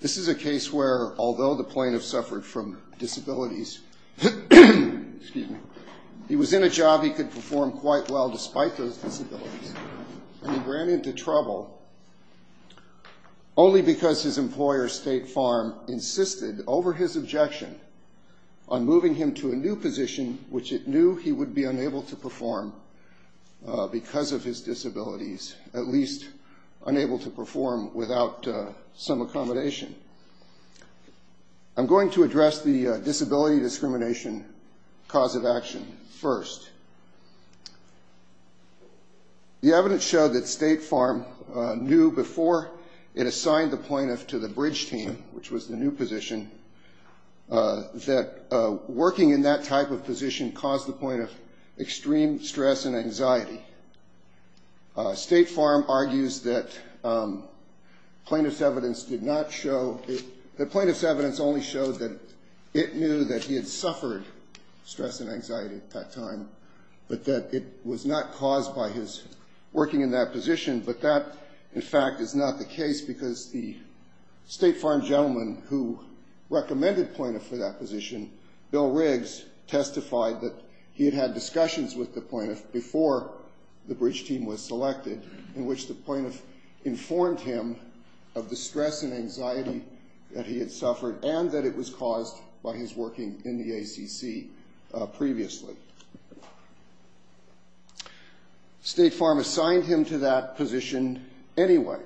This is a case where, although the plaintiff suffered from disabilities, he was in a job he could perform quite well despite those disabilities, and he ran into trouble only because his employer, State Farm, insisted over his objection on moving him to a new position which it knew he would be unable to perform because of his disabilities, at least unable to perform without some accommodation. I'm going to address the disability discrimination cause of action first. The evidence showed that State Farm knew before it assigned the plaintiff to the bridge team, which was the new position, that working in that type of position caused the plaintiff extreme stress and anxiety. State Farm argues that plaintiff's evidence only showed that it knew that he had suffered stress and anxiety at that time, but that it was not caused by his working in that position. But that, in fact, is not the case because the State Farm gentleman who recommended plaintiff for that position, Bill Riggs, testified that he had had discussions with the plaintiff before the bridge team was selected in which the plaintiff informed him of the stress and anxiety that he had suffered and that it was caused by his working in the ACC previously. State Farm assigned him to that position anyway.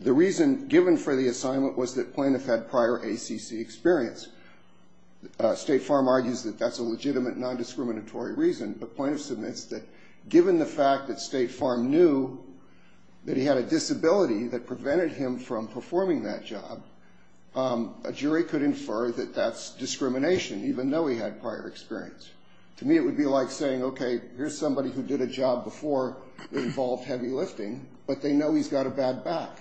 The reason given for the assignment was that plaintiff had prior ACC experience. State Farm argues that that's a legitimate non-discriminatory reason, but plaintiff submits that given the fact that State Farm knew that he had a disability that prevented him from performing that job, a jury could infer that that's discrimination even though he had prior experience. To me, it would be like saying, okay, here's somebody who did a job before that involved heavy lifting, but they know he's got a bad back.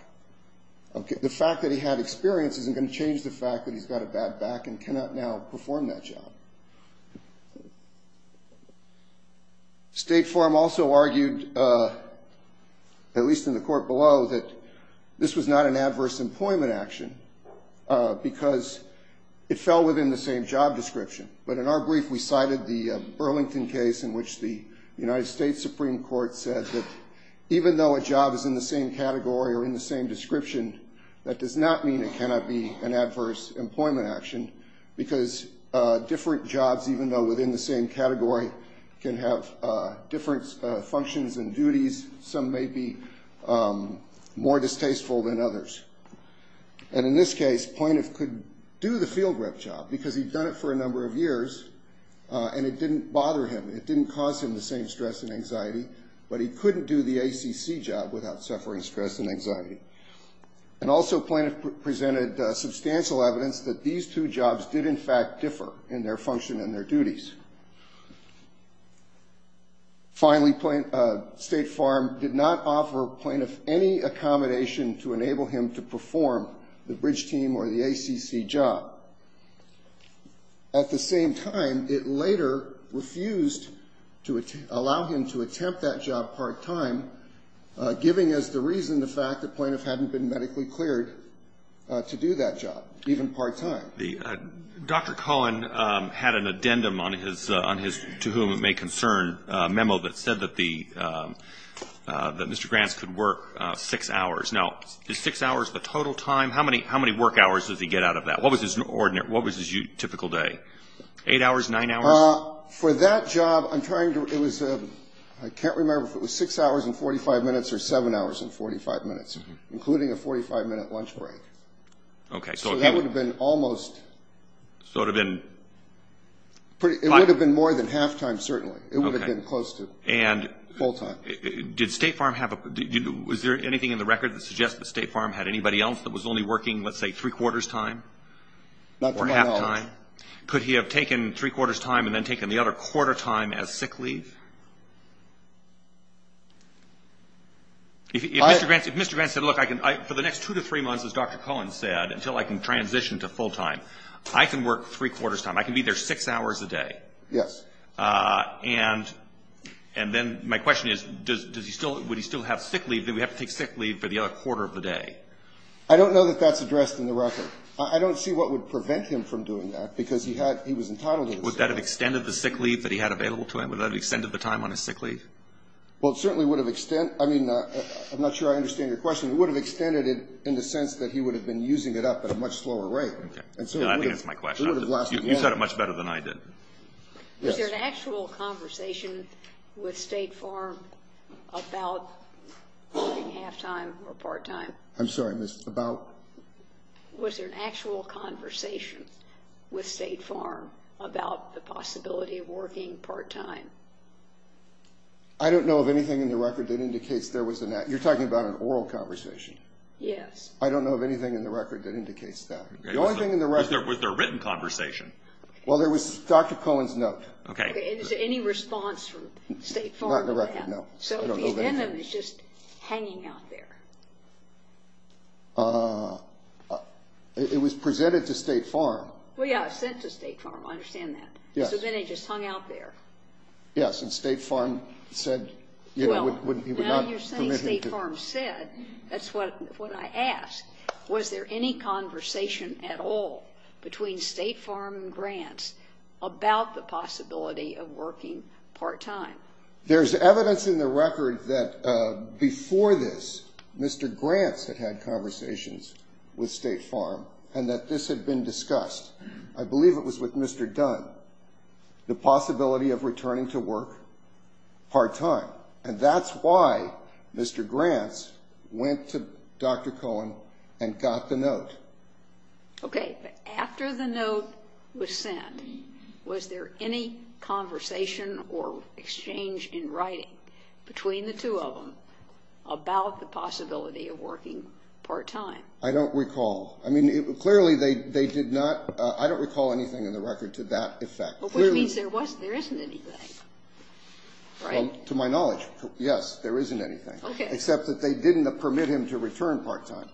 The fact that he had experience isn't going to change the fact that he's got a bad back and cannot now perform that job. State Farm also argued, at least in the court below, that this was not an adverse employment action because it fell within the same job description. But in our brief, we cited the Burlington case in which the United States Supreme Court said that even though a job is in the same category or in the same description, that does not mean it cannot be an adverse employment action because different jobs, even though within the same category, can have different functions and duties. Some may be more distasteful than others. And in this case, plaintiff could do the field rep job because he'd done it for a number of years and it didn't bother him. It didn't cause him the same stress and anxiety, but he couldn't do the ACC job without suffering stress and anxiety. And also, plaintiff presented substantial evidence that these two jobs did, in fact, differ in their function and their duties. Finally, State Farm did not offer plaintiff any accommodation to enable him to perform the bridge team or the ACC job. At the same time, it later refused to allow him to attempt that job part-time, giving us the reason the fact that plaintiff hadn't been medically cleared to do that job, even part-time. The Dr. Cullen had an addendum on his, to whom it may concern, memo that said that the, that Mr. Grants could work 6 hours. Now, is 6 hours the total time? How many work hours does he get out of that? What was his ordinary, what was his typical day? 8 hours, 9 hours? For that job, I'm trying to, it was a, I can't remember if it was 6 hours and 45 minutes or 7 hours and 45 minutes, including a 45-minute lunch break. Okay, so if he would have been almost... So it would have been... It would have been more than half-time, certainly. It would have been close to full-time. And did State Farm have a, was there anything in the record that suggests that State Farm had anybody else that was only working, let's say, three-quarters time or half-time? Could he have taken three-quarters time and then taken the other quarter time as sick leave? If Mr. Grants, if Mr. Grants said, look, I can, I, for the next 2 to 3 months, as Dr. Cohen said, until I can transition to full-time, I can work three-quarters time. I can be there 6 hours a day. Yes. And, and then my question is, does, does he still, would he still have sick leave? Do we have to take sick leave for the other quarter of the day? I don't know that that's addressed in the record. I don't see what would prevent him from doing that, because he had, he was entitled to the sick leave. Would that have extended the sick leave that he had available to him? Would that have extended the time on his sick leave? Well, it certainly would have extended, I mean, I'm not sure I understand your question. It would have extended it in the sense that he would have been using it up at a much slower And so it would have, it would have lasted longer. I think that's my question. You said it much better than I did. Yes. Was there an actual conversation with State Farm about working half-time or part-time? I'm sorry, Miss, about? Was there an actual conversation with State Farm about the possibility of working part-time? I don't know of anything in the record that indicates there was an act. You're talking about an oral conversation. Yes. I don't know of anything in the record that indicates that. The only thing in the record... Was there a written conversation? Well, there was Dr. Cohen's note. Okay. Is there any response from State Farm? Not in the record, no. So the venom is just hanging out there. It was presented to State Farm. Well, yeah, it was sent to State Farm. I understand that. Yes. So then it just hung out there. Yes, and State Farm said, you know, he would not permit him to... Well, now you're saying State Farm said. That's what I asked. Was there any conversation at all between State Farm and Grants about the possibility of working part-time? There's evidence in the record that before this, Mr. Grants had had conversations with State Farm and that this had been discussed. I believe it was with Mr. Dunn, the possibility of returning to work part-time. And that's why Mr. Grants went to Dr. Cohen and got the note. Okay. After the note was sent, was there any conversation or exchange in writing between the two of them about the possibility of working part-time? I don't recall. I mean, clearly, they did not. I don't recall anything in the record to that effect. Which means there wasn't, there isn't anything, right? To my knowledge, yes, there isn't anything, except that they didn't permit him to return part-time.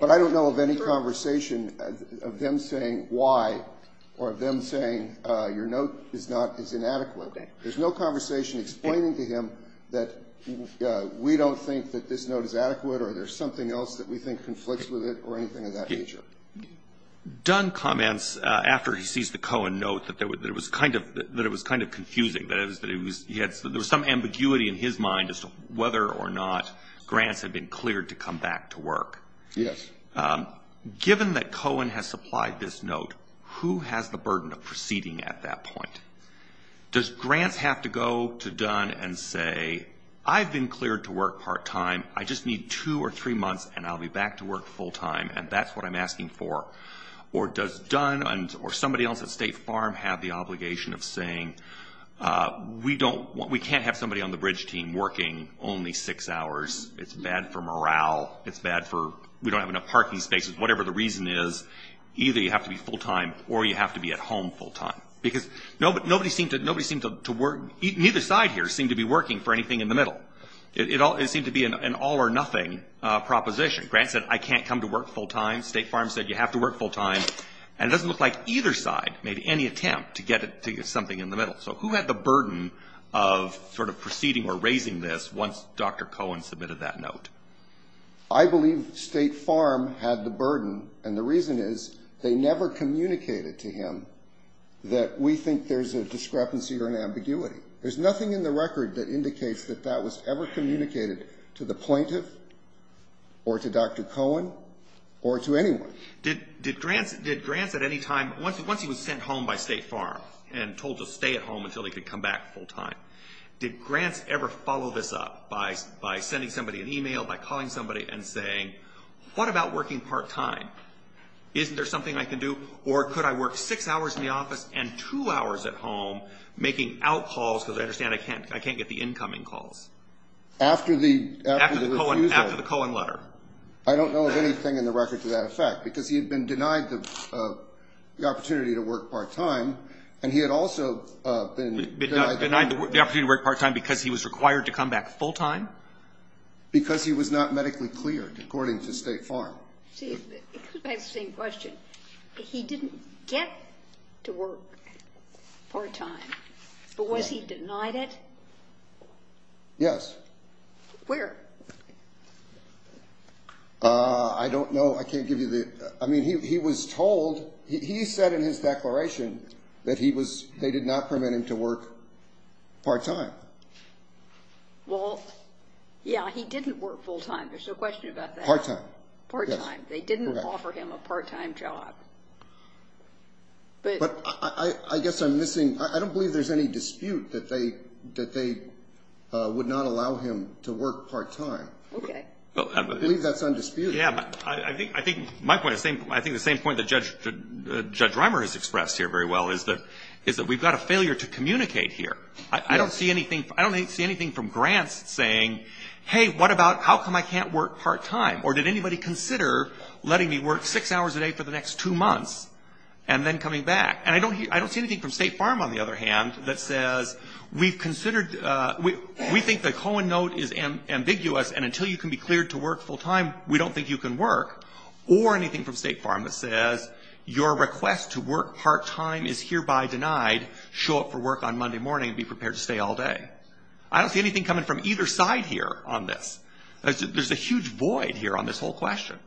But I don't know of any conversation of them saying why or of them saying your note is not, is inadequate. There's no conversation explaining to him that we don't think that this note is adequate or there's something else that we think conflicts with it or anything of that nature. Dunn comments after he sees the Cohen note that there was, that it was kind of, that it was kind of confusing, that it was, that it was, he had, there was some ambiguity in his mind as to whether or not Grants had been cleared to come back to work. Yes. Given that Cohen has supplied this note, who has the burden of proceeding at that point? Does Grants have to go to Dunn and say, I've been cleared to work part-time, I just need two or three months and I'll be back to work full-time, and that's what I'm asking for? Or does Dunn and, or somebody else at State Farm have the obligation of saying, we don't, we can't have somebody on the bridge team working only six hours, it's bad for morale, it's bad for, we don't have enough parking spaces, whatever the reason is, either you have to be full-time or you have to be at home full-time. Because nobody seemed to, nobody seemed to work, neither side here seemed to be working for anything in the middle. It all, it seemed to be an all or nothing proposition. Grants said, I can't come to work full-time, State Farm said you have to work full-time, and it doesn't look like either side made any attempt to get it, to get something in the middle. So who had the burden of sort of proceeding or raising this once Dr. Cohen submitted that note? I believe State Farm had the burden, and the reason is they never communicated to him that we think there's a discrepancy or an ambiguity. There's nothing in the record that indicates that that was ever communicated to the plaintiff or to Dr. Cohen or to anyone. Did, did Grants, did Grants at any time, once, once he was sent home by State Farm and told to stay at home until he could come back full-time, did Grants ever follow this up by, by sending somebody an email, by calling somebody and saying, what about working part-time, isn't there something I can do, or could I work six hours in the office and two hours at home making out-calls, because I understand I can't, I can't get the incoming calls? After the, after the refusal. After the Cohen letter. I don't know of anything in the record to that effect, because he had been denied the, the opportunity to work part-time, and he had also been denied the opportunity to work part-time because he was required to come back full-time? Because he was not medically cleared, according to State Farm. Steve, I have the same question. He didn't get to work part-time, but was he denied it? Yes. Where? I don't know. I can't give you the, I mean, he, he was told, he said in his declaration that he was, they did not permit him to work part-time. Well, yeah, he didn't work full-time, there's no question about that. Part-time. Part-time. They didn't offer him a part-time job, but. But I, I guess I'm missing, I don't believe there's any dispute that they, that they would not allow him to work part-time. Okay. I believe that's undisputed. Yeah, but I think, I think my point is the same, I think the same point that Judge, Judge Reimer has expressed here very well is that, is that we've got a failure to communicate here. I don't see anything, I don't see anything from grants saying, hey, what about, how come I can't work part-time? Or did anybody consider letting me work six hours a day for the next two months, and then coming back? And I don't, I don't see anything from State Farm, on the other hand, that says, we've considered, we, we think the Cohen note is ambiguous, and until you can be cleared to work full-time, we don't think you can work. Or anything from State Farm that says, your request to work part-time is hereby denied, show up for work on Monday morning and be prepared to stay all day. I don't see anything coming from either side here on this. There's a huge void here on this whole question.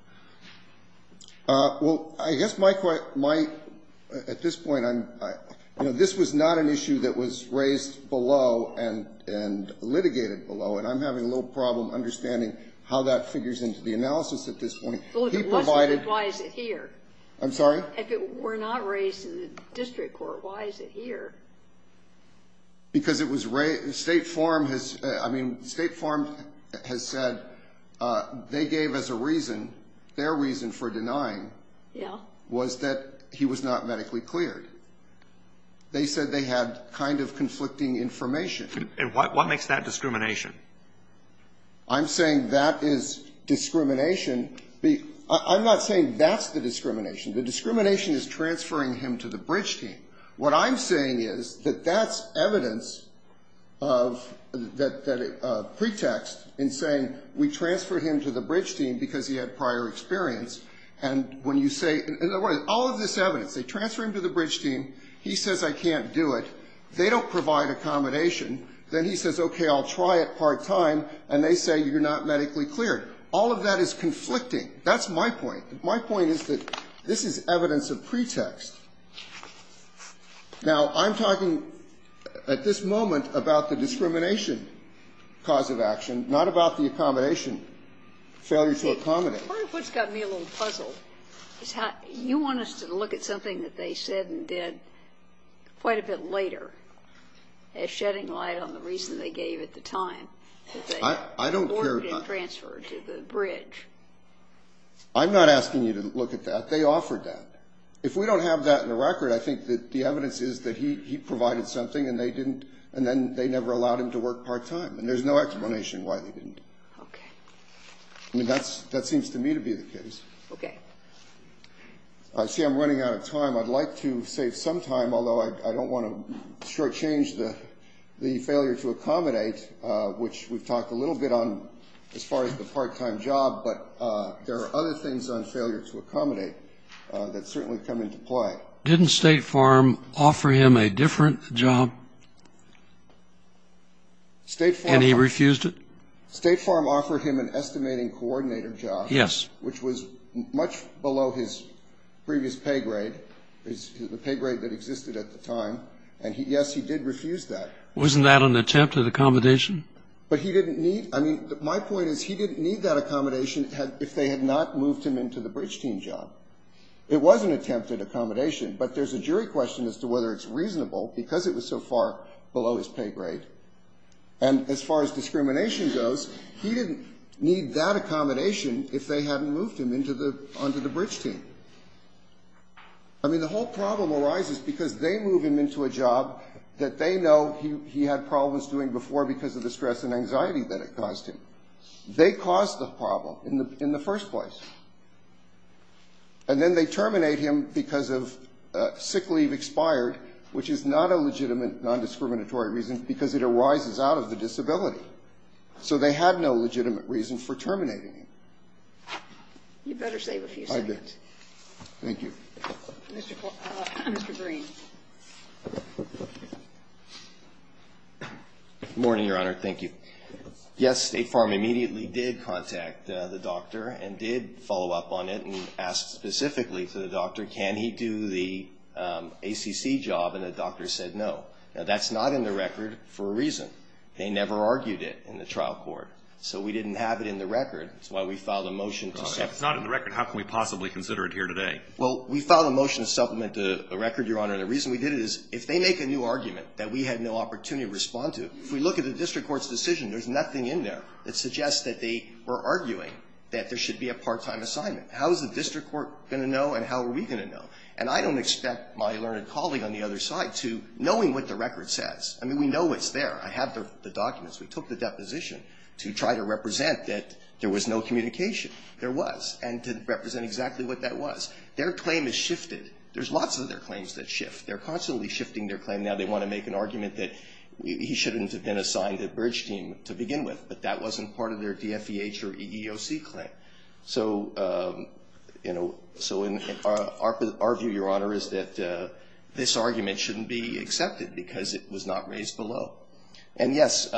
Well, I guess my, my, at this point, I'm, you know, this was not an issue that was raised below and, and litigated below, and I'm having a little problem understanding how that figures into the analysis at this point. Well, if it wasn't, then why is it here? I'm sorry? If it were not raised in the district court, why is it here? Because it was raised, State Farm has, I mean, State Farm has said, they gave us a reason, their reason for denying. Yeah. Was that he was not medically cleared. They said they had kind of conflicting information. And what, what makes that discrimination? I'm saying that is discrimination. I'm not saying that's the discrimination. The discrimination is transferring him to the bridge team. What I'm saying is that that's evidence of, that, that a pretext in saying we transferred him to the bridge team because he had prior experience. And when you say, in other words, all of this evidence, they transfer him to the bridge team. He says, I can't do it. They don't provide accommodation. Then he says, okay, I'll try it part time. And they say, you're not medically cleared. All of that is conflicting. That's my point. My point is that this is evidence of pretext. Now, I'm talking at this moment about the discrimination cause of action, not about the accommodation, failure to accommodate. Part of what's got me a little puzzled is how you want us to look at something that they said and did quite a bit later as shedding light on the reason they gave at the time. I don't care. Transferred to the bridge. I'm not asking you to look at that. They offered that. If we don't have that in the record, I think that the evidence is that he provided something and they didn't. And then they never allowed him to work part time. And there's no explanation why they didn't. Okay. I mean, that seems to me to be the case. Okay. I see I'm running out of time. I'd like to save some time, although I don't want to shortchange the failure to accommodate, which we've talked a little bit on as far as the part time job. But there are other things on failure to accommodate that certainly come into play. Didn't State Farm offer him a different job? State Farm. And he refused it? State Farm offered him an estimating coordinator job. Yes. Which was much below his previous pay grade, the pay grade that existed at the time. And yes, he did refuse that. Wasn't that an attempt at accommodation? But he didn't need. I mean, my point is he didn't need that accommodation if they had not moved him into the bridge team job. It was an attempt at accommodation, but there's a jury question as to whether it's reasonable because it was so far below his pay grade. And as far as discrimination goes, he didn't need that accommodation if they hadn't moved him onto the bridge team. I mean, the whole problem arises because they move him into a job that they know he had problems doing before because of the stress and anxiety that it caused him. They caused the problem in the first place. And then they terminate him because of sick leave expired, which is not a legitimate non-discriminatory reason because it arises out of the disability. So they had no legitimate reason for terminating him. You better save a few seconds. I did. Thank you. Mr. Green. Good morning, Your Honor. Thank you. Yes, State Farm immediately did contact the doctor and did follow up on it and asked specifically to the doctor, can he do the ACC job? And the doctor said no. Now, that's not in the record for a reason. They never argued it in the trial court. So we didn't have it in the record. That's why we filed a motion to supplement. If it's not in the record, how can we possibly consider it here today? Well, we filed a motion to supplement the record, Your Honor. And the reason we did it is if they make a new argument that we had no opportunity to respond to, if we look at the district court's decision, there's nothing in there that suggests that they were arguing that there should be a part-time assignment. How is the district court going to know and how are we going to know? And I don't expect my learned colleague on the other side to, knowing what the record says, I mean, we know it's there. I have the documents. We took the deposition to try to represent that there was no communication. There was, and to represent exactly what that was. Their claim has shifted. There's lots of other claims that shift. They're constantly shifting their claim. Now they want to make an argument that he shouldn't have been assigned a bridge team to begin with, but that wasn't part of their DFEH or EEOC claim. So, you know, so in our view, Your Honor, is that this argument shouldn't be accepted because it was not raised below. And yes,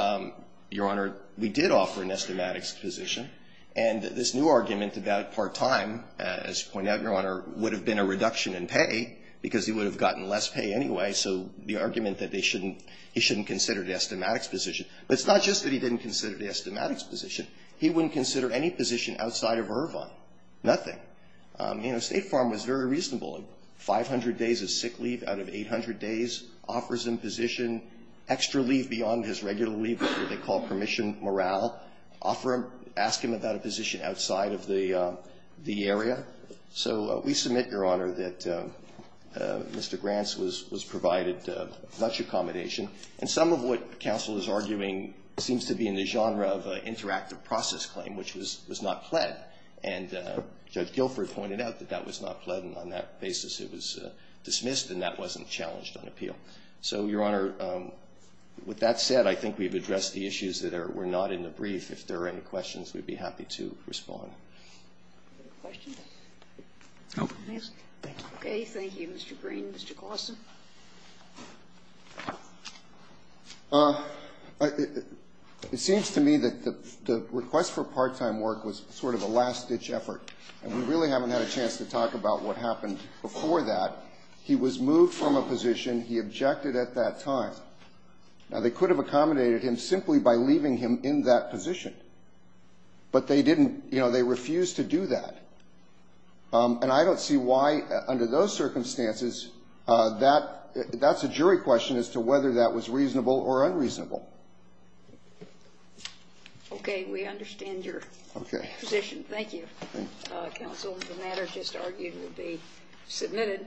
Your Honor, we did offer an estimatics position. And this new argument about part-time, as you point out, Your Honor, would have been a reduction in pay because he would have gotten less pay anyway. So the argument that they shouldn't, he shouldn't consider the estimatics position, but it's not just that he didn't consider the estimatics position. He wouldn't consider any position outside of Irvine, nothing. You know, State Farm was very reasonable. 500 days of sick leave out of 800 days offers him position, extra leave beyond his regular leave, what they call permission morale, offer him, ask him about a position outside of the area. So we submit, Your Honor, that Mr. Grants was provided much accommodation. And some of what counsel is arguing seems to be in the genre of interactive process claim, which was not pled. And Judge Guilford pointed out that that was not pled, and on that basis it was dismissed, and that wasn't challenged on appeal. So, Your Honor, with that said, I think we've addressed the issues that were not in the brief. If there are any questions, we'd be happy to respond. Any questions? No. Okay, thank you, Mr. Green. Mr. Gossin? It seems to me that the request for part-time work was sort of a last-ditch effort, and we really haven't had a chance to talk about what happened before that. He was moved from a position he objected at that time. Now, they could have accommodated him simply by leaving him in that position, but they didn't. You know, they refused to do that, and I don't see why, under those circumstances, that's a jury question as to whether that was reasonable or unreasonable. Okay, we understand your position. Thank you, counsel. The matter just argued will be submitted.